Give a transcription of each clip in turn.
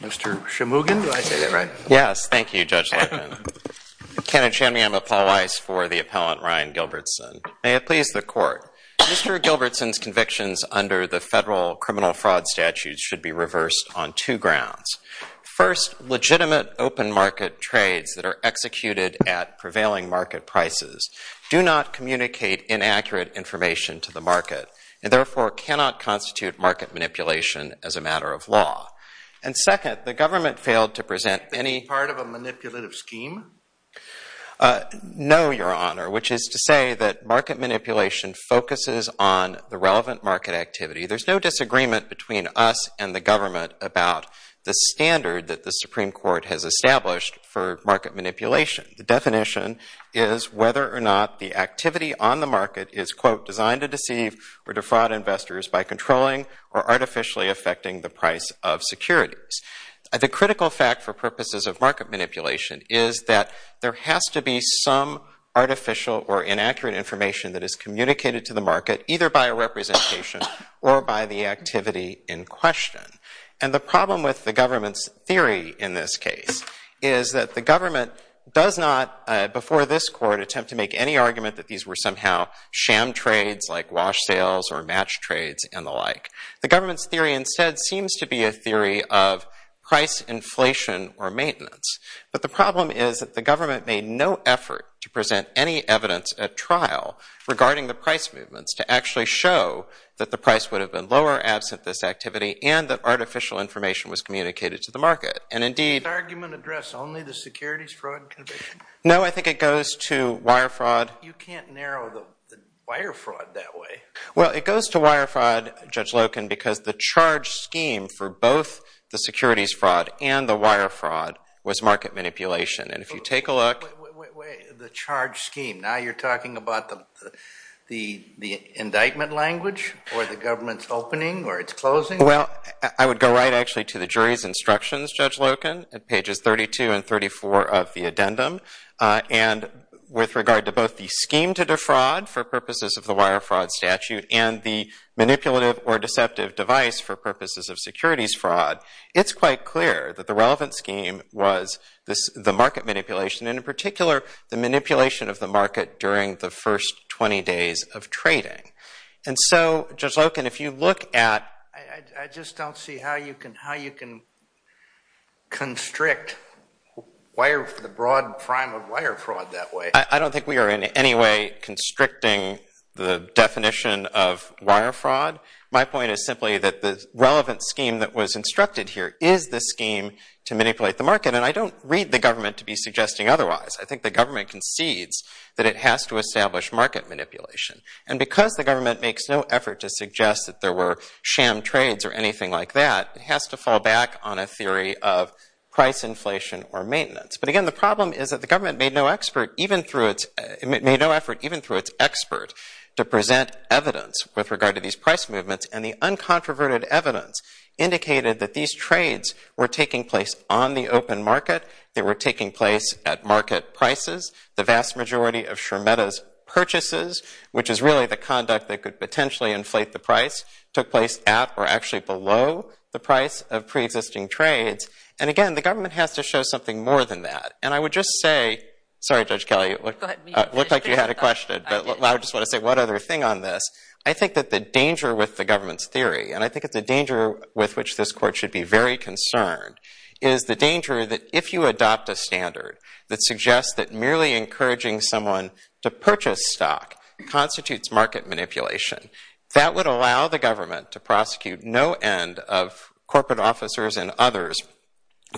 Mr. Shemugan, did I say that right? Yes, thank you, Judge Larkin. Kenneth Shemugan, I'm a Paul Weiss for the appellant, Ryan Gilbertson. May it please the Court. Mr. Gilbertson's convictions under the federal criminal fraud statute should be reversed on two grounds. First, legitimate open market trades that are executed at prevailing market prices do not communicate inaccurate information to the market and therefore cannot constitute market manipulation as a matter of law. And second, the government failed to present any part of a manipulative scheme? No, Your Honor, which is to say that market manipulation focuses on the relevant market activity. There's no disagreement between us and the government about the standard that the Supreme Court has established for market manipulation. The definition is whether or not the activity on the market is, quote, designed to deceive or defraud investors by controlling or artificially affecting the price of securities. The critical fact for purposes of market manipulation is that there has to be some artificial or inaccurate information that is communicated to the market, either by a representation or by the activity in question. And the problem with the government's theory in this case is that the government does not, before this court, attempt to make any argument that these were somehow sham trades like wash sales or match trades and the like. The government's theory instead seems to be a theory of price inflation or maintenance. But the problem is that the government made no effort to present any evidence at trial regarding the price movements to actually show that the price would have been lower absent this activity and that artificial information was communicated to the market. And indeed- Does this argument address only the securities fraud conviction? No, I think it goes to wire fraud. You can't narrow the wire fraud that way. Well, it goes to wire fraud, Judge Loken, because the charge scheme for both the securities fraud and the wire fraud was market manipulation. And if you take a look- Wait, wait, wait. The charge scheme. Now you're talking about the indictment language or the government's opening or its closing? Well, I would go right actually to the jury's instructions, Judge Loken, at pages 32 and 34 of the addendum. And with regard to both the scheme to defraud for purposes of the wire fraud statute and the manipulative or deceptive device for purposes of securities fraud, it's quite clear that the relevant scheme was the market manipulation, and in particular the manipulation of the market during the first 20 days of trading. And so, Judge Loken, if you look at- I just don't see how you can constrict the broad prime of wire fraud that way. I don't think we are in any way constricting the definition of wire fraud. My point is simply that the relevant scheme that was instructed here is the scheme to manipulate the market, and I don't read the government to be suggesting otherwise. I think the government concedes that it has to establish market manipulation. And because the government makes no effort to suggest that there were sham trades or anything like that, it has to fall back on a theory of price inflation or maintenance. But again, the problem is that the government made no effort, even through its expert, to present evidence with regard to these price movements, and the uncontroverted evidence indicated that these trades were taking place on the open market. They were taking place at market prices. The vast majority of Shermeta's purchases, which is really the conduct that could potentially inflate the price, took place at or actually below the price of preexisting trades. And again, the government has to show something more than that. And I would just say- sorry, Judge Kelly, it looked like you had a question, but I just want to say one other thing on this. I think that the danger with the government's theory, and I think it's a danger with which this Court should be very concerned, is the danger that if you adopt a standard that suggests that merely encouraging someone to purchase stock constitutes market manipulation, that would allow the government to prosecute no end of corporate officers and others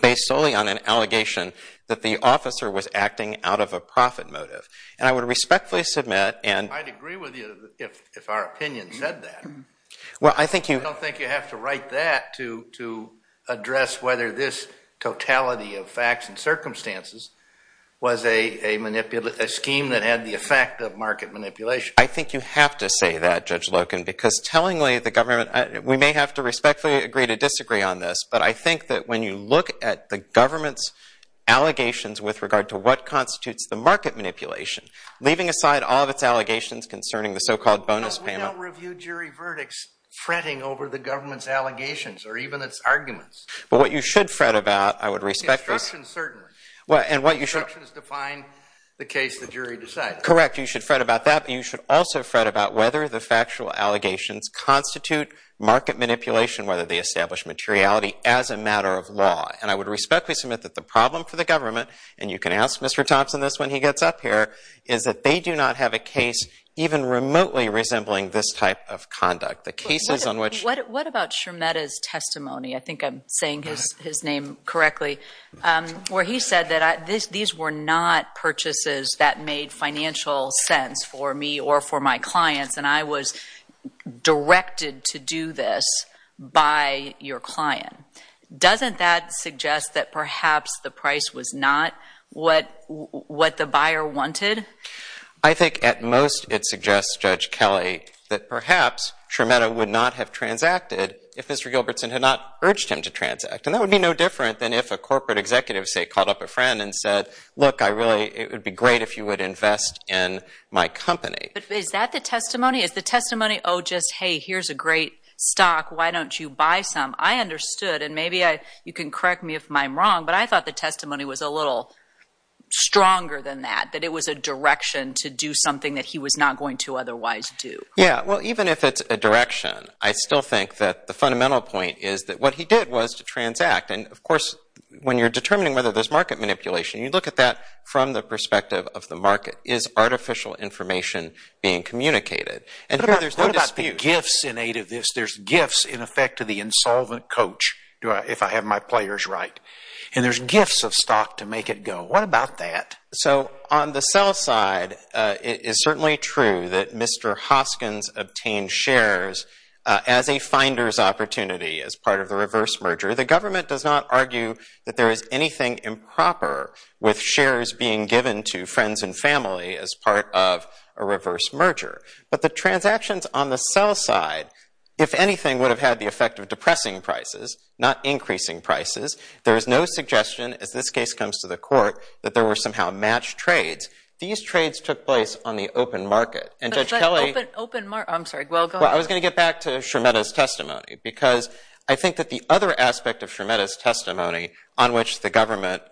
based solely on an allegation that the officer was acting out of a profit motive. And I would respectfully submit- I'd agree with you if our opinion said that. Well, I think you- I don't think you have to write that to address whether this totality of facts and circumstances was a scheme that had the effect of market manipulation. I think you have to say that, Judge Loken, because tellingly the government- we may have to respectfully agree to disagree on this, but I think that when you look at the government's allegations with regard to what constitutes the market manipulation, leaving aside all of its allegations concerning the so-called bonus payment- over the government's allegations or even its arguments- But what you should fret about, I would respectfully- The instructions certainly. Well, and what you should- The instructions define the case the jury decides. Correct. You should fret about that, but you should also fret about whether the factual allegations constitute market manipulation, whether they establish materiality as a matter of law. And I would respectfully submit that the problem for the government- and you can ask Mr. Thompson this when he gets up here- is that they do not have a case even remotely resembling this type of conduct. The cases on which- What about Schermetta's testimony? I think I'm saying his name correctly. Where he said that these were not purchases that made financial sense for me or for my clients, and I was directed to do this by your client. Doesn't that suggest that perhaps the price was not what the buyer wanted? I think at most it suggests, Judge Kelly, that perhaps Schermetta would not have transacted if Mr. Gilbertson had not urged him to transact. And that would be no different than if a corporate executive, say, called up a friend and said, look, I really- it would be great if you would invest in my company. But is that the testimony? Is the testimony, oh, just, hey, here's a great stock. Why don't you buy some? I understood, and maybe you can correct me if I'm wrong, but I thought the testimony was a little stronger than that, that it was a direction to do something that he was not going to otherwise do. Yeah, well, even if it's a direction, I still think that the fundamental point is that what he did was to transact. And, of course, when you're determining whether there's market manipulation, you look at that from the perspective of the market. Is artificial information being communicated? What about the gifts in aid of this? There's gifts in effect to the insolvent coach if I have my players right. And there's gifts of stock to make it go. What about that? So on the sell side, it is certainly true that Mr. Hoskins obtained shares as a finder's opportunity as part of the reverse merger. The government does not argue that there is anything improper with shares being given to friends and family as part of a reverse merger. But the transactions on the sell side, if anything, would have had the effect of depressing prices, not increasing prices. There is no suggestion, as this case comes to the court, that there were somehow matched trades. These trades took place on the open market. And Judge Kelly— But is that open market? I'm sorry, go ahead. Well, I was going to get back to Schermetta's testimony because I think that the other aspect of Schermetta's testimony on which the government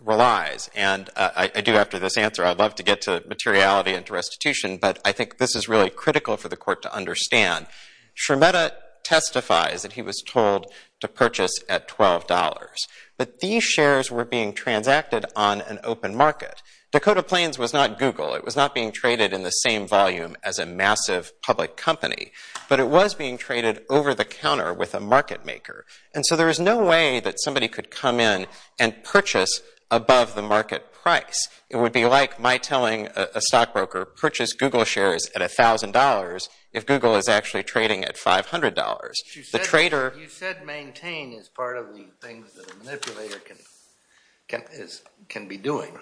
relies, and I do after this answer, I'd love to get to materiality and to restitution, but I think this is really critical for the court to understand. Schermetta testifies that he was told to purchase at $12. But these shares were being transacted on an open market. Dakota Plains was not Google. It was not being traded in the same volume as a massive public company. But it was being traded over the counter with a market maker. And so there is no way that somebody could come in and purchase above the market price. It would be like my telling a stockbroker, purchase Google shares at $1,000 if Google is actually trading at $500. You said maintain is part of the things that a manipulator can be doing.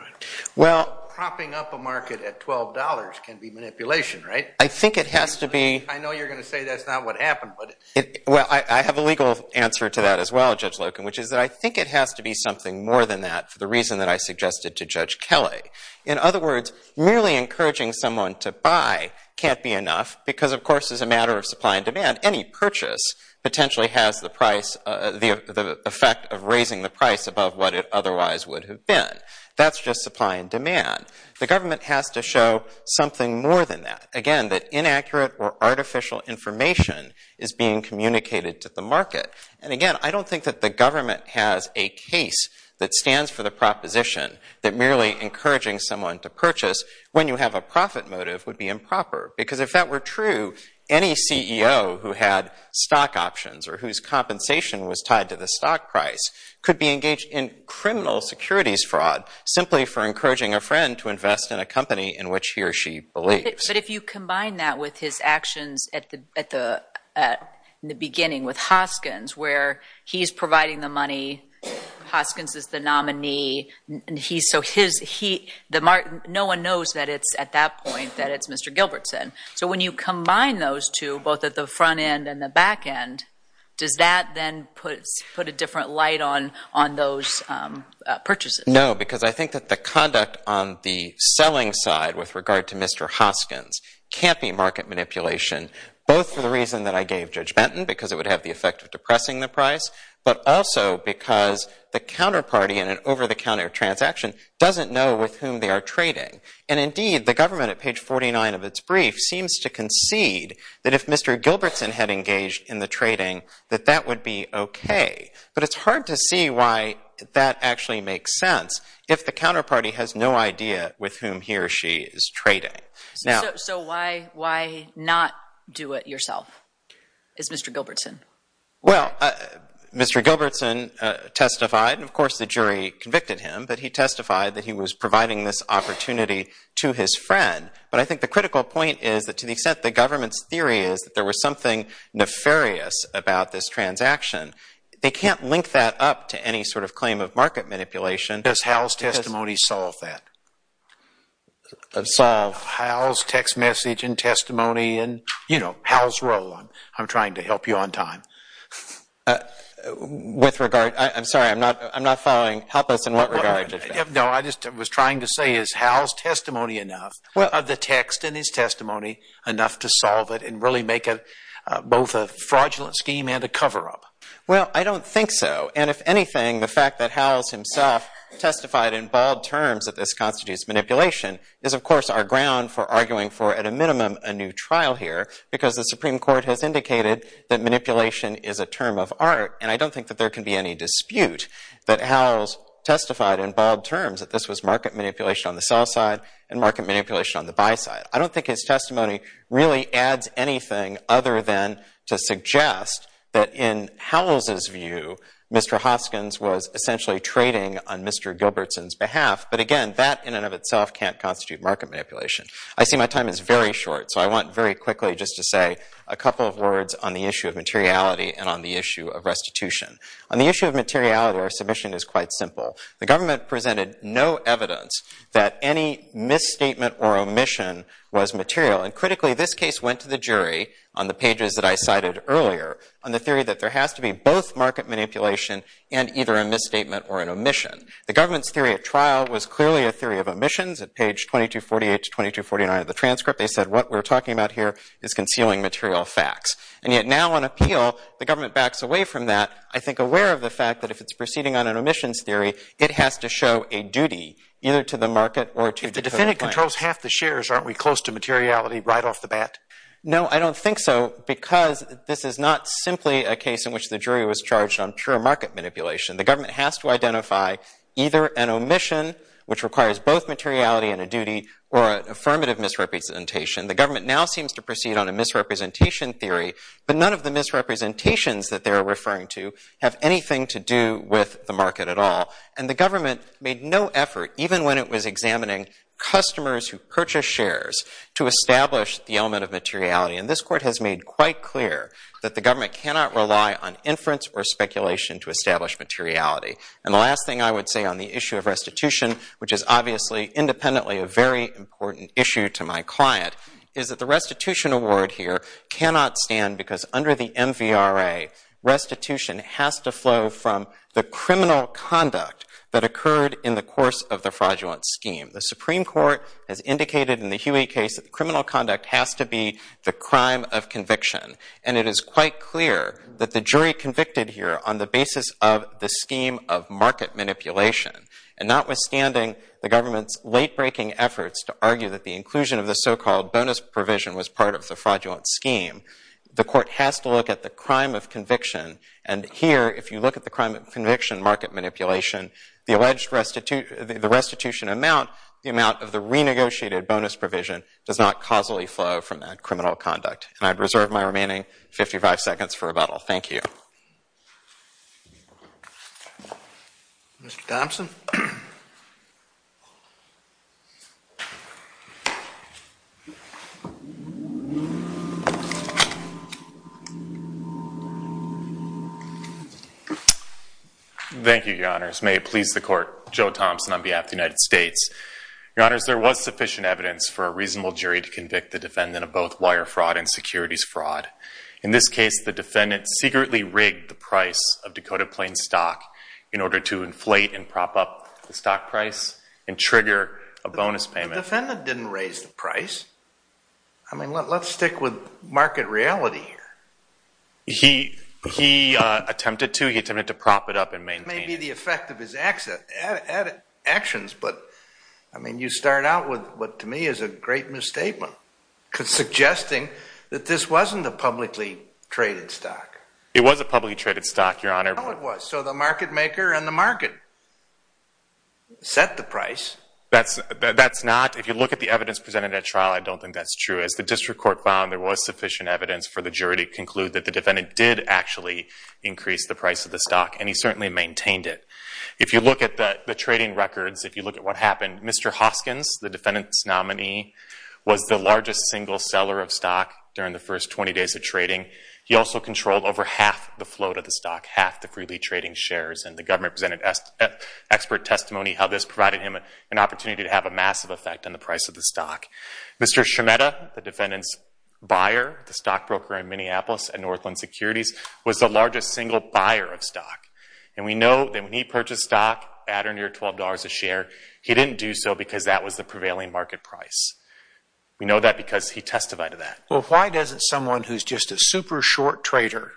Well— Propping up a market at $12 can be manipulation, right? I think it has to be— I know you're going to say that's not what happened, but— Well, I have a legal answer to that as well, Judge Loken, which is that I think it has to be something more than that for the reason that I suggested to Judge Kelley. In other words, merely encouraging someone to buy can't be enough because, of course, as a matter of supply and demand, any purchase potentially has the effect of raising the price above what it otherwise would have been. That's just supply and demand. The government has to show something more than that. Again, that inaccurate or artificial information is being communicated to the market. And again, I don't think that the government has a case that stands for the proposition that merely encouraging someone to purchase when you have a profit motive would be improper because if that were true, any CEO who had stock options or whose compensation was tied to the stock price could be engaged in criminal securities fraud simply for encouraging a friend to invest in a company in which he or she believes. But if you combine that with his actions at the beginning with Hoskins where he's providing the money, Hoskins is the nominee, so no one knows at that point that it's Mr. Gilbertson. So when you combine those two, both at the front end and the back end, does that then put a different light on those purchases? No, because I think that the conduct on the selling side with regard to Mr. Hoskins can't be market manipulation, both for the reason that I gave Judge Benton, because it would have the effect of depressing the price, but also because the counterparty in an over-the-counter transaction doesn't know with whom they are trading. And indeed, the government, at page 49 of its brief, seems to concede that if Mr. Gilbertson had engaged in the trading, that that would be okay. But it's hard to see why that actually makes sense if the counterparty has no idea with whom he or she is trading. So why not do it yourself? It's Mr. Gilbertson. Well, Mr. Gilbertson testified, and of course the jury convicted him, but he testified that he was providing this opportunity to his friend. But I think the critical point is that to the extent the government's theory is that there was something nefarious about this transaction, they can't link that up to any sort of claim of market manipulation. Does Howell's testimony solve that? Solve. Howell's text message and testimony and, you know, Howell's role. I'm trying to help you on time. With regard, I'm sorry, I'm not following. Help us in what regard. No, I just was trying to say is Howell's testimony enough, are the text in his testimony enough to solve it and really make it both a fraudulent scheme and a cover-up? Well, I don't think so. And if anything, the fact that Howell himself testified in bold terms that this constitutes manipulation is, of course, our ground for arguing for, at a minimum, a new trial here because the Supreme Court has indicated that manipulation is a term of art. And I don't think that there can be any dispute that Howell's testified in bold terms that this was market manipulation on the sell side and market manipulation on the buy side. I don't think his testimony really adds anything other than to suggest that in Howell's view, Mr. Hoskins was essentially trading on Mr. Gilbertson's behalf. But again, that in and of itself can't constitute market manipulation. I see my time is very short, so I want very quickly just to say a couple of words on the issue of materiality and on the issue of restitution. On the issue of materiality, our submission is quite simple. The government presented no evidence that any misstatement or omission was material. And critically, this case went to the jury on the pages that I cited earlier on the theory that there has to be both market manipulation and either a misstatement or an omission. The government's theory at trial was clearly a theory of omissions. At page 2248 to 2249 of the transcript, they said, what we're talking about here is concealing material facts. And yet now on appeal, the government backs away from that, I think aware of the fact that if it's proceeding on an omissions theory, it has to show a duty either to the market or to the defendant. If the defendant controls half the shares, aren't we close to materiality right off the bat? No, I don't think so because this is not simply a case in which the jury was charged on pure market manipulation. The government has to identify either an omission, which requires both materiality and a duty, or an affirmative misrepresentation. The government now seems to proceed on a misrepresentation theory, but none of the misrepresentations that they're referring to have anything to do with the market at all. And the government made no effort, even when it was examining customers who purchased shares, to establish the element of materiality. And this court has made quite clear that the government cannot rely on inference or speculation to establish materiality. And the last thing I would say on the issue of restitution, which is obviously independently a very important issue to my client, is that the restitution award here cannot stand because under the MVRA, restitution has to flow from the criminal conduct that occurred in the course of the fraudulent scheme. The Supreme Court has indicated in the Huey case that criminal conduct has to be the crime of conviction. And it is quite clear that the jury convicted here on the basis of the scheme of market manipulation. And notwithstanding the government's late-breaking efforts to argue that the inclusion of the so-called bonus provision was part of the fraudulent scheme, the court has to look at the crime of conviction. And here, if you look at the crime of conviction market manipulation, the restitution amount, the amount of the renegotiated bonus provision does not causally flow from that criminal conduct. And I reserve my remaining 55 seconds for rebuttal. Thank you. Mr. Thompson? Thank you, Your Honors. May it please the Court, Joe Thompson on behalf of the United States. Your Honors, there was sufficient evidence for a reasonable jury to convict the defendant of both wire fraud and securities fraud. In this case, the defendant secretly rigged the price of Dakota Plains stock in order to inflate and prop up the stock price and trigger a bonus payment. The defendant didn't raise the price. I mean, let's stick with market reality here. He attempted to. He attempted to prop it up and maintain it. Maybe the effect of his actions, but you start out with what to me is a great misstatement, suggesting that this wasn't a publicly traded stock. It was a publicly traded stock, Your Honor. So the market maker and the market set the price. That's not. If you look at the evidence presented at trial, I don't think that's true. As the district court found, there was sufficient evidence for the jury to conclude that the defendant did actually increase the price of the stock, and he certainly maintained it. If you look at the trading records, if you look at what happened, Mr. Hoskins, the defendant's nominee, was the largest single seller of stock during the first 20 days of trading. He also controlled over half the float of the stock, half the freely trading shares, and the government presented expert testimony how this provided him an opportunity to have a massive effect on the price of the stock. Mr. Scimetta, the defendant's buyer, the stockbroker in Minneapolis at Northland Securities, was the largest single buyer of stock. And we know that when he purchased stock at or near $12 a share, he didn't do so because that was the prevailing market price. We know that because he testified to that. Well, why doesn't someone who's just a super short trader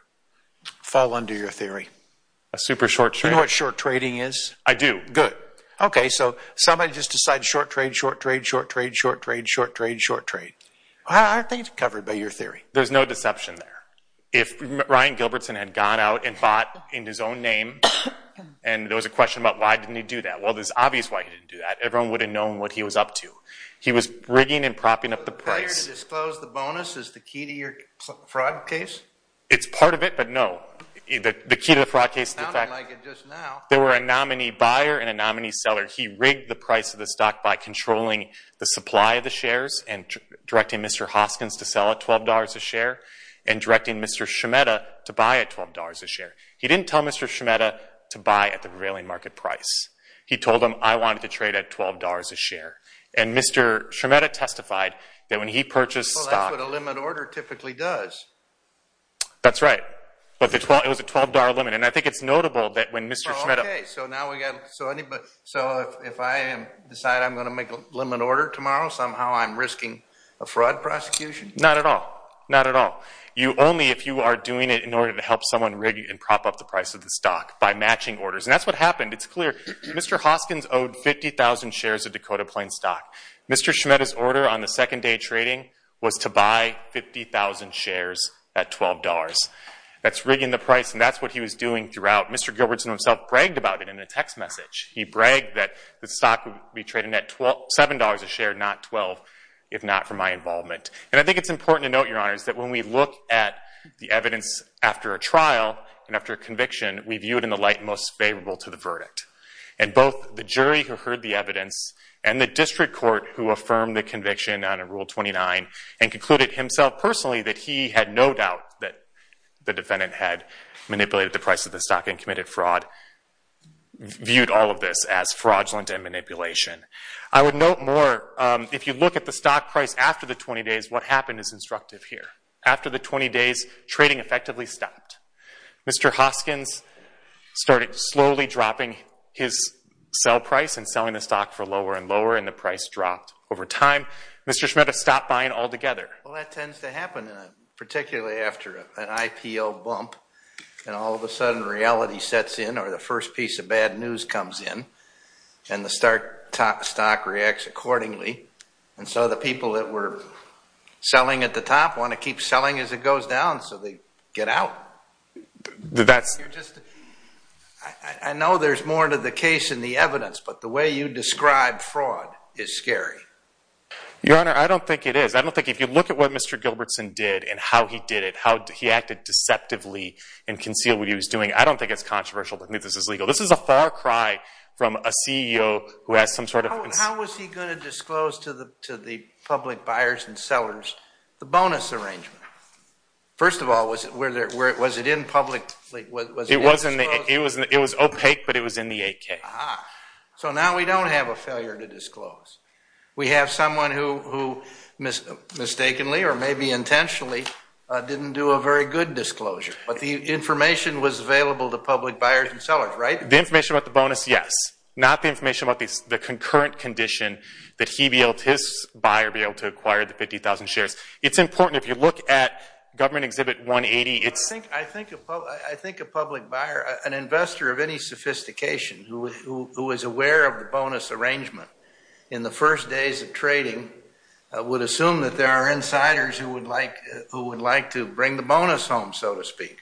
fall under your theory? A super short trader? Do you know what short trading is? I do. Good. Okay, so somebody just decided short trade, short trade, short trade, short trade, short trade, short trade. I think it's covered by your theory. There's no deception there. If Ryan Gilbertson had gone out and bought in his own name and there was a question about why didn't he do that, well, it's obvious why he didn't do that. Everyone would have known what he was up to. He was rigging and propping up the price. Is it fair to disclose the bonus as the key to your fraud case? It's part of it, but no. The key to the fraud case is the fact that there were a nominee buyer He rigged the price of the stock by controlling the supply of the shares and directing Mr. Hoskins to sell at $12 a share and directing Mr. Scimetta to buy at $12 a share. He didn't tell Mr. Scimetta to buy at the prevailing market price. He told him, I wanted to trade at $12 a share. And Mr. Scimetta testified that when he purchased stock Well, that's what a limit order typically does. That's right. But it was a $12 limit, and I think it's notable that when Mr. Scimetta Well, okay, so now we've got So if I decide I'm going to make a limit order tomorrow, somehow I'm risking a fraud prosecution? Not at all. Not at all. Only if you are doing it in order to help someone rig and prop up the price of the stock by matching orders. And that's what happened. It's clear. Mr. Hoskins owed 50,000 shares of Dakota Plains stock. Mr. Scimetta's order on the second day of trading was to buy 50,000 shares at $12. That's rigging the price, and that's what he was doing throughout. Mr. Gilbertson himself bragged about it in a text message. He bragged that the stock would be trading at $7 a share, not $12, if not for my involvement. And I think it's important to note, Your Honors, that when we look at the evidence after a trial and after a conviction, we view it in the light most favorable to the verdict. And both the jury who heard the evidence and the district court who affirmed the conviction under Rule 29 and concluded himself personally that he had no doubt that the defendant had manipulated the price of the stock and committed fraud, viewed all of this as fraudulent and manipulation. I would note more, if you look at the stock price after the 20 days, what happened is instructive here. After the 20 days, trading effectively stopped. Mr. Hoskins started slowly dropping his sell price and selling the stock for lower and lower, and the price dropped over time. Mr. Scimetta stopped buying altogether. Well, that tends to happen, particularly after an IPO bump, and all of a sudden reality sets in, or the first piece of bad news comes in, and the stock reacts accordingly. And so the people that were selling at the top want to keep selling as it goes down so they get out. I know there's more to the case in the evidence, but the way you describe fraud is scary. Your Honor, I don't think it is. I don't think if you look at what Mr. Gilbertson did and how he did it, how he acted deceptively and concealed what he was doing, I don't think it's controversial, but I think this is legal. This is a far cry from a CEO who has some sort of... How was he going to disclose to the public buyers and sellers the bonus arrangement? First of all, was it in public? It was opaque, but it was in the AK. So now we don't have a failure to disclose. We have someone who mistakenly or maybe intentionally didn't do a very good disclosure. But the information was available to public buyers and sellers, right? The information about the bonus, yes. Not the information about the concurrent condition that he, his buyer, be able to acquire the 50,000 shares. It's important if you look at Government Exhibit 180. I think a public buyer, an investor of any sophistication who is aware of the bonus arrangement in the first days of trading would assume that there are insiders who would like to bring the bonus home, so to speak.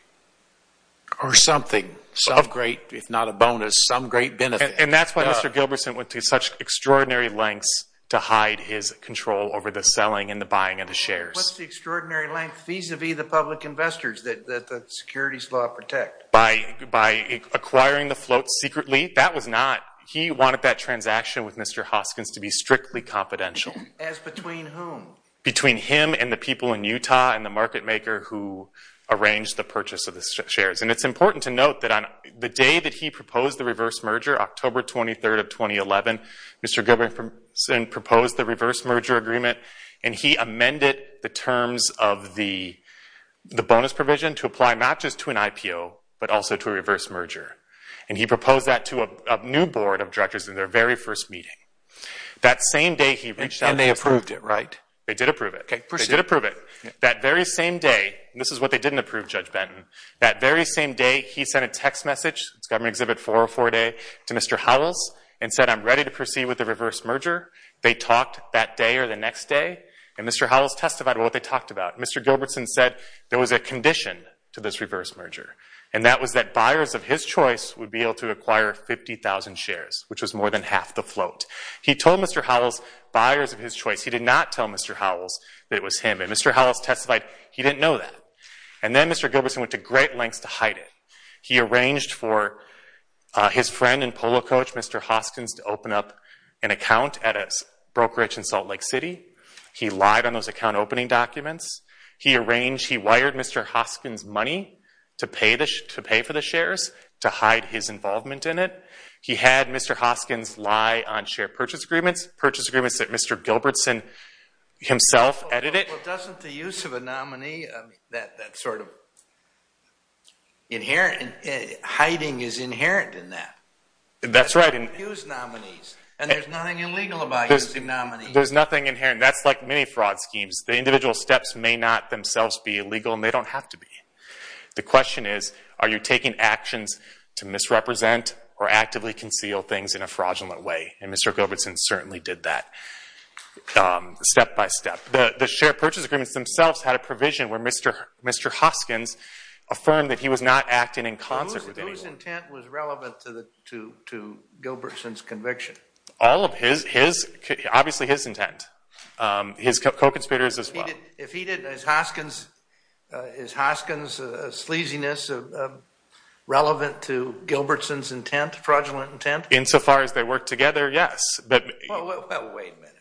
Or something. Some great, if not a bonus, some great benefit. And that's why Mr. Gilbertson went to such extraordinary lengths to hide his control over the selling and the buying of the shares. What's the extraordinary length vis-à-vis the public investors that the securities law protect? By acquiring the float secretly? That was not... He wanted that transaction with Mr. Hoskins to be strictly confidential. As between whom? Between him and the people in Utah and the market maker who arranged the purchase of the shares. And it's important to note that on the day that he proposed the reverse merger, October 23rd of 2011, Mr. Gilbertson proposed the reverse merger agreement and he amended the terms of the bonus provision to apply not just to an IPO, but also to a reverse merger. And he proposed that to a new board of directors in their very first meeting. That same day he reached out... And they approved it, right? They did approve it. Okay, proceed. They did approve it. That very same day, and this is what they didn't approve, Judge Benton, that very same day he sent a text message, it's government exhibit 404-A, to Mr. Huddles and said, I'm ready to proceed with the reverse merger. They talked that day or the next day and Mr. Huddles testified about what they talked about. Mr. Gilbertson said there was a condition to this reverse merger and that was that buyers of his choice would be able to acquire 50,000 shares, which was more than half the float. He told Mr. Huddles, buyers of his choice, he did not tell Mr. Huddles that it was him. And Mr. Huddles testified he didn't know that. And then Mr. Gilbertson went to great lengths to hide it. He arranged for his friend and polo coach, Mr. Hoskins, to open up an account at a brokerage in Salt Lake City. He lied on those account opening documents. He wired Mr. Hoskins money to pay for the shares to hide his involvement in it. He had Mr. Hoskins lie on share purchase agreements, purchase agreements that Mr. Gilbertson himself edited. Well, doesn't the use of a nominee, that sort of hiding is inherent in that? That's right. Use nominees. And there's nothing illegal about using nominees. There's nothing inherent. That's like many fraud schemes. The individual steps may not themselves be illegal, and they don't have to be. The question is, are you taking actions to misrepresent or actively conceal things in a fraudulent way? And Mr. Gilbertson certainly did that step by step. The share purchase agreements themselves had a provision where Mr. Hoskins affirmed that he was not acting in concert with anyone. Whose intent was relevant to Gilbertson's conviction? All of his. Obviously his intent. His co-conspirators as well. If he did, is Hoskins' sleaziness relevant to Gilbertson's intent, fraudulent intent? Insofar as they work together, yes. Well, wait a minute.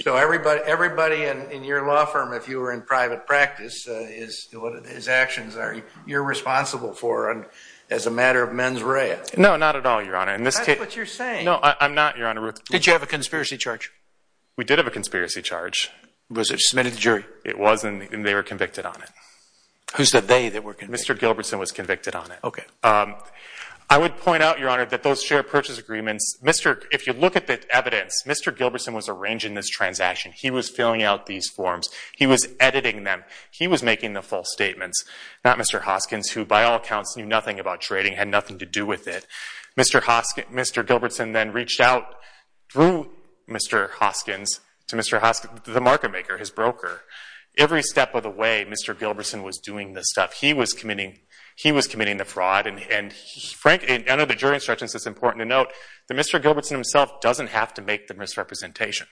So everybody in your law firm, if you were in private practice, his actions are you're responsible for as a matter of mens rea. No, not at all, Your Honor. No, I'm not, Your Honor. Did you have a conspiracy charge? We did have a conspiracy charge. Was it submitted to jury? It was, and they were convicted on it. Who said they that were convicted? Mr. Gilbertson was convicted on it. Okay. I would point out, Your Honor, that those share purchase agreements, if you look at the evidence, Mr. Gilbertson was arranging this transaction. He was filling out these forms. He was editing them. He was making the false statements, not Mr. Hoskins, who by all accounts knew nothing about trading, had nothing to do with it. Mr. Gilbertson then reached out through Mr. Hoskins to Mr. Hoskins, the market maker, his broker. Every step of the way, Mr. Gilbertson was doing this stuff. He was committing the fraud, and under the jury instructions it's important to note that Mr. Gilbertson himself doesn't have to make the misrepresentation.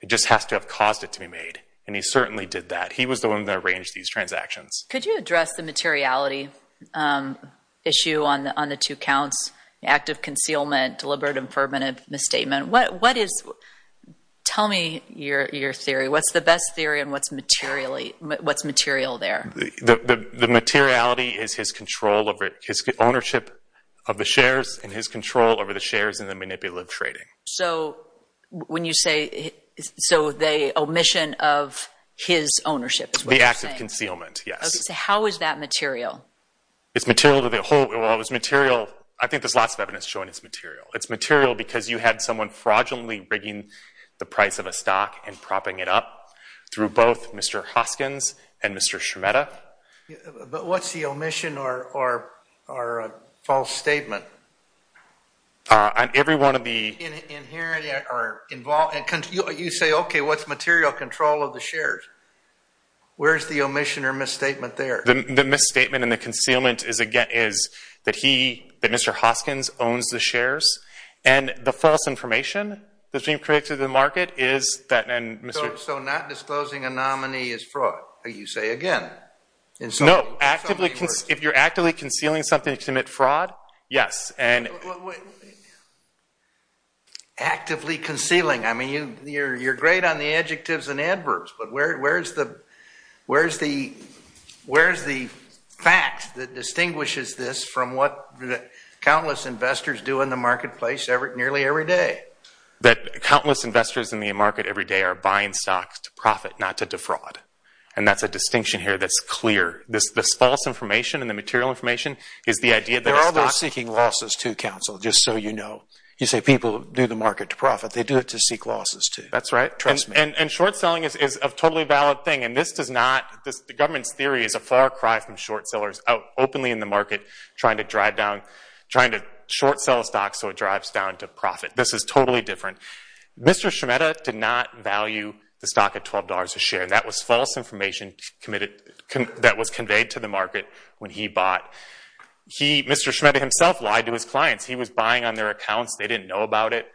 It just has to have caused it to be made, and he certainly did that. He was the one that arranged these transactions. Could you address the materiality issue on the two counts, the act of concealment, deliberate and permanent misstatement? Tell me your theory. What's the best theory, and what's material there? The materiality is his ownership of the shares and his control over the shares in the manipulative trading. The act of concealment, yes. How is that material? It's material to the whole. I think there's lots of evidence showing it's material. It's material because you had someone fraudulently rigging the price of a stock and propping it up through both Mr. Hoskins and Mr. Scimetta. But what's the omission or false statement? On every one of the— You say, okay, what's material control of the shares? Where's the omission or misstatement there? The misstatement and the concealment is that Mr. Hoskins owns the shares, and the false information that's being created in the market is that— So not disclosing a nominee is fraud, you say again? No. If you're actively concealing something to commit fraud, yes. Actively concealing. I mean, you're great on the adjectives and adverbs, but where's the fact that distinguishes this from what countless investors do in the marketplace nearly every day? That countless investors in the market every day are buying stocks to profit, not to defraud. And that's a distinction here that's clear. This false information and the material information is the idea that a stock— They're always seeking losses too, counsel, just so you know. You say people do the market to profit. They do it to seek losses too. That's right. Trust me. And short-selling is a totally valid thing, and this does not— The government's theory is a far cry from short-sellers openly in the market trying to short-sell a stock so it drives down to profit. This is totally different. Mr. Scimetta did not value the stock at $12 a share, and that was false information that was conveyed to the market when he bought. Mr. Scimetta himself lied to his clients. He was buying on their accounts. They didn't know about it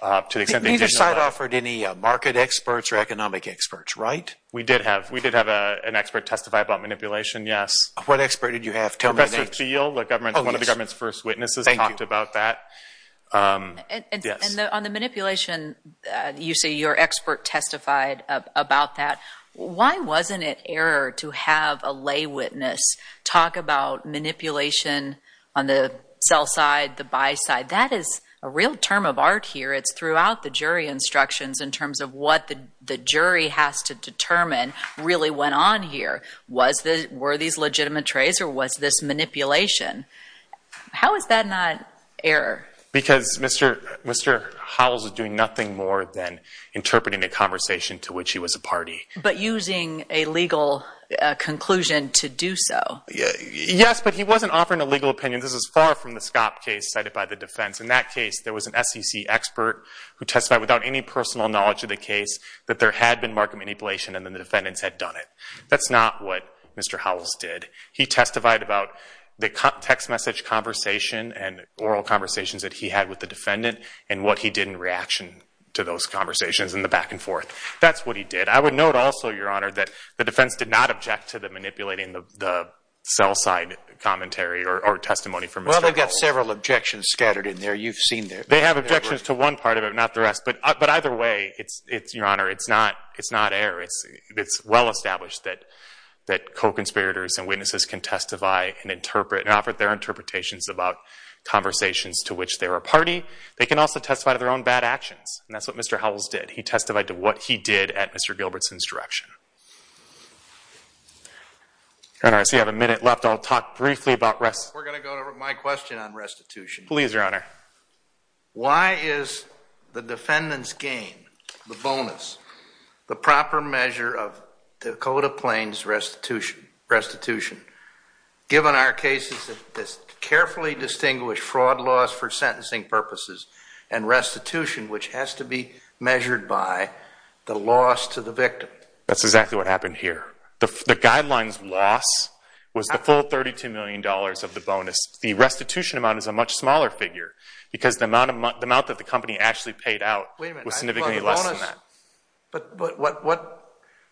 to the extent they did know about it. Neither side offered any market experts or economic experts, right? We did have an expert testify about manipulation, yes. What expert did you have? Professor Thiel, one of the government's first witnesses, talked about that. And on the manipulation, you say your expert testified about that. Why wasn't it error to have a lay witness talk about manipulation on the sell side, the buy side? That is a real term of art here. It's throughout the jury instructions in terms of what the jury has to determine really went on here. Were these legitimate trades or was this manipulation? How is that not error? Because Mr. Howells was doing nothing more than interpreting a conversation to which he was a party. But using a legal conclusion to do so. Yes, but he wasn't offering a legal opinion. This is far from the SCOP case cited by the defense. In that case, there was an SEC expert who testified without any personal knowledge of the case that there had been market manipulation and then the defendants had done it. That's not what Mr. Howells did. He testified about the text message conversation and oral conversations that he had with the defendant and what he did in reaction to those conversations and the back and forth. That's what he did. I would note also, Your Honor, that the defense did not object to them Well, they've got several objections scattered in there. You've seen them. They have objections to one part of it, not the rest. But either way, Your Honor, it's not error. It's well established that co-conspirators and witnesses can testify and interpret and offer their interpretations about conversations to which they were a party. They can also testify to their own bad actions. And that's what Mr. Howells did. He testified to what he did at Mr. Gilbertson's direction. I see we have a minute left. So I'll talk briefly about restitution. We're going to go to my question on restitution. Please, Your Honor. Why is the defendant's gain, the bonus, the proper measure of Dakota Plains restitution given our cases that carefully distinguish fraud laws for sentencing purposes and restitution, which has to be measured by the loss to the victim? That's exactly what happened here. The guideline's loss was the full $32 million of the bonus. The restitution amount is a much smaller figure because the amount that the company actually paid out was significantly less than that. But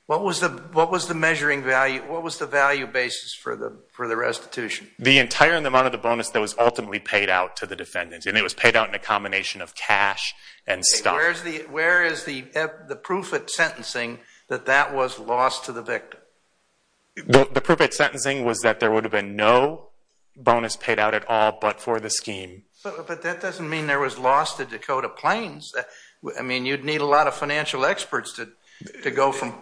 what was the measuring value? What was the value basis for the restitution? The entire amount of the bonus that was ultimately paid out to the defendant. And it was paid out in a combination of cash and stuff. Where is the proof at sentencing that that was lost to the victim? The proof at sentencing was that there would have been no bonus paid out at all but for the scheme. But that doesn't mean there was loss to Dakota Plains. I mean, you'd need a lot of financial experts to go from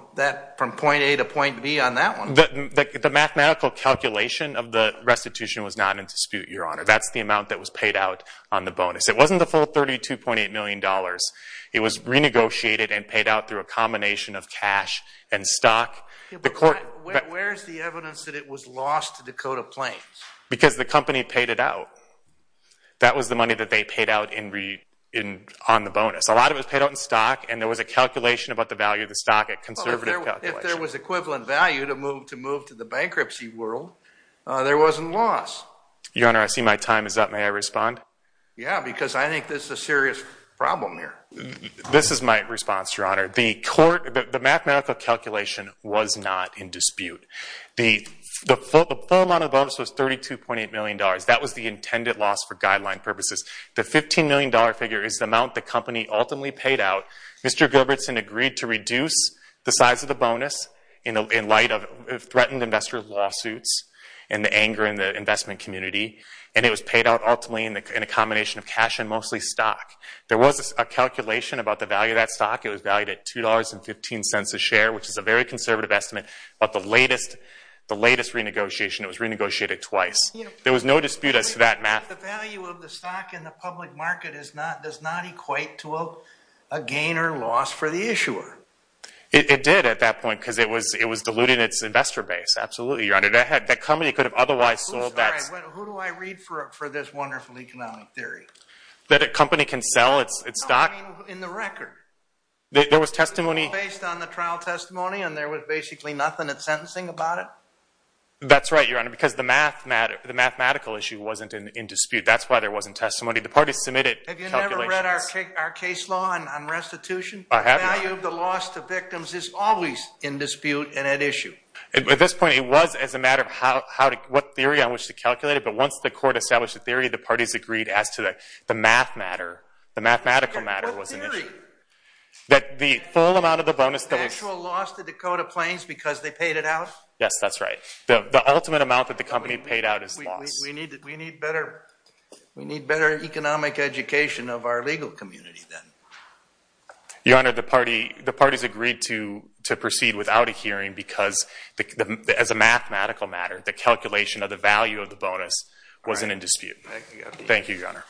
point A to point B on that one. The mathematical calculation of the restitution was not in dispute, Your Honor. That's the amount that was paid out on the bonus. It wasn't the full $32.8 million. It was renegotiated and paid out through a combination of cash and stock. Where is the evidence that it was lost to Dakota Plains? Because the company paid it out. That was the money that they paid out on the bonus. A lot of it was paid out in stock and there was a calculation about the value of the stock, a conservative calculation. If there was equivalent value to move to the bankruptcy world, there wasn't loss. Your Honor, I see my time is up. May I respond? Yeah, because I think this is a serious problem here. This is my response, Your Honor. The mathematical calculation was not in dispute. The full amount of bonus was $32.8 million. That was the intended loss for guideline purposes. The $15 million figure is the amount the company ultimately paid out. Mr. Gilbertson agreed to reduce the size of the bonus in light of threatened investor lawsuits and the anger in the investment community. It was paid out ultimately in a combination of cash and mostly stock. There was a calculation about the value of that stock. It was valued at $2.15 a share, which is a very conservative estimate. But the latest renegotiation, it was renegotiated twice. There was no dispute as to that math. The value of the stock in the public market does not equate to a gain or loss for the issuer. It did at that point because it was diluting its investor base. Absolutely, Your Honor. That company could have otherwise sold that stock. Who do I read for this wonderful economic theory? That a company can sell its stock. No, I mean in the record. There was testimony. Based on the trial testimony and there was basically nothing at sentencing about it? That's right, Your Honor, because the mathematical issue wasn't in dispute. That's why there wasn't testimony. The parties submitted calculations. Have you never read our case law on restitution? I have not. The value of the loss to victims is always in dispute and at issue. At this point, it was as a matter of what theory on which to calculate it. But once the court established the theory, the parties agreed as to the math matter. The mathematical matter was in issue. What theory? That the full amount of the bonus that was— The actual loss to Dakota Plains because they paid it out? Yes, that's right. The ultimate amount that the company paid out is loss. We need better economic education of our legal community then. Your Honor, the parties agreed to proceed without a hearing because as a mathematical matter, the calculation of the value of the bonus wasn't in dispute. Thank you, Your Honor.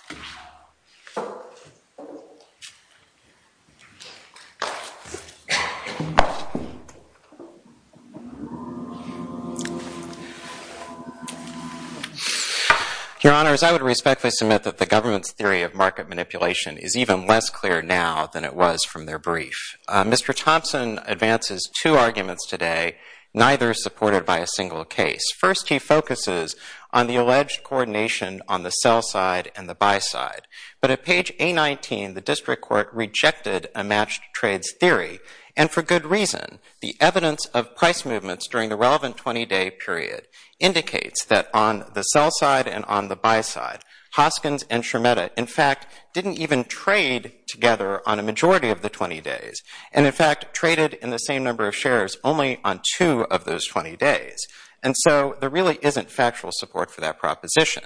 Your Honors, I would respectfully submit that the government's theory of market manipulation is even less clear now than it was from their brief. Mr. Thompson advances two arguments today, neither supported by a single case. First, he focuses on the alleged coordination on the sell side and the buy side. But at page A19, the district court rejected a matched trades theory, and for good reason. The evidence of price movements during the relevant 20-day period indicates that on the sell side and on the buy side, Hoskins and Schermetta, in fact, didn't even trade together on a majority of the 20 days. And in fact, traded in the same number of shares only on two of those 20 days. And so there really isn't factual support for that proposition.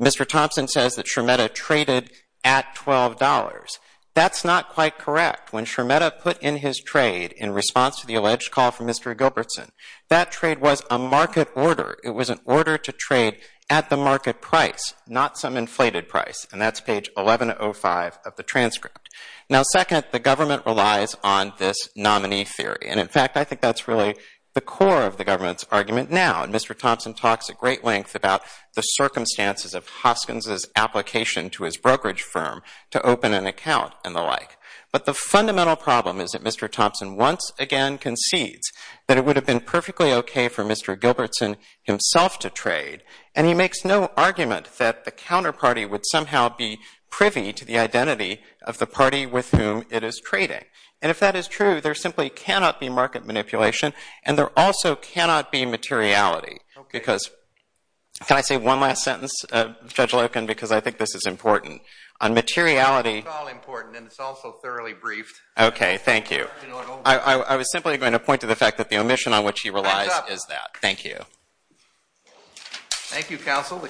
Mr. Thompson says that Schermetta traded at $12. That's not quite correct. When Schermetta put in his trade in response to the alleged call from Mr. Gilbertson, that trade was a market order. It was an order to trade at the market price, not some inflated price. And that's page 1105 of the transcript. Now, second, the government relies on this nominee theory. And in fact, I think that's really the core of the government's argument now. And Mr. Thompson talks at great length about the circumstances of Hoskins' application to his brokerage firm to open an account and the like. But the fundamental problem is that Mr. Thompson once again concedes that it would have been perfectly okay for Mr. Gilbertson himself to trade. And he makes no argument that the counterparty would somehow be privy to the identity of the party with whom it is trading. And if that is true, there simply cannot be market manipulation. And there also cannot be materiality. Can I say one last sentence, Judge Loken, because I think this is important? On materiality. It's all important, and it's also thoroughly briefed. Okay, thank you. I was simply going to point to the fact that the omission on which he relies is that. Thank you.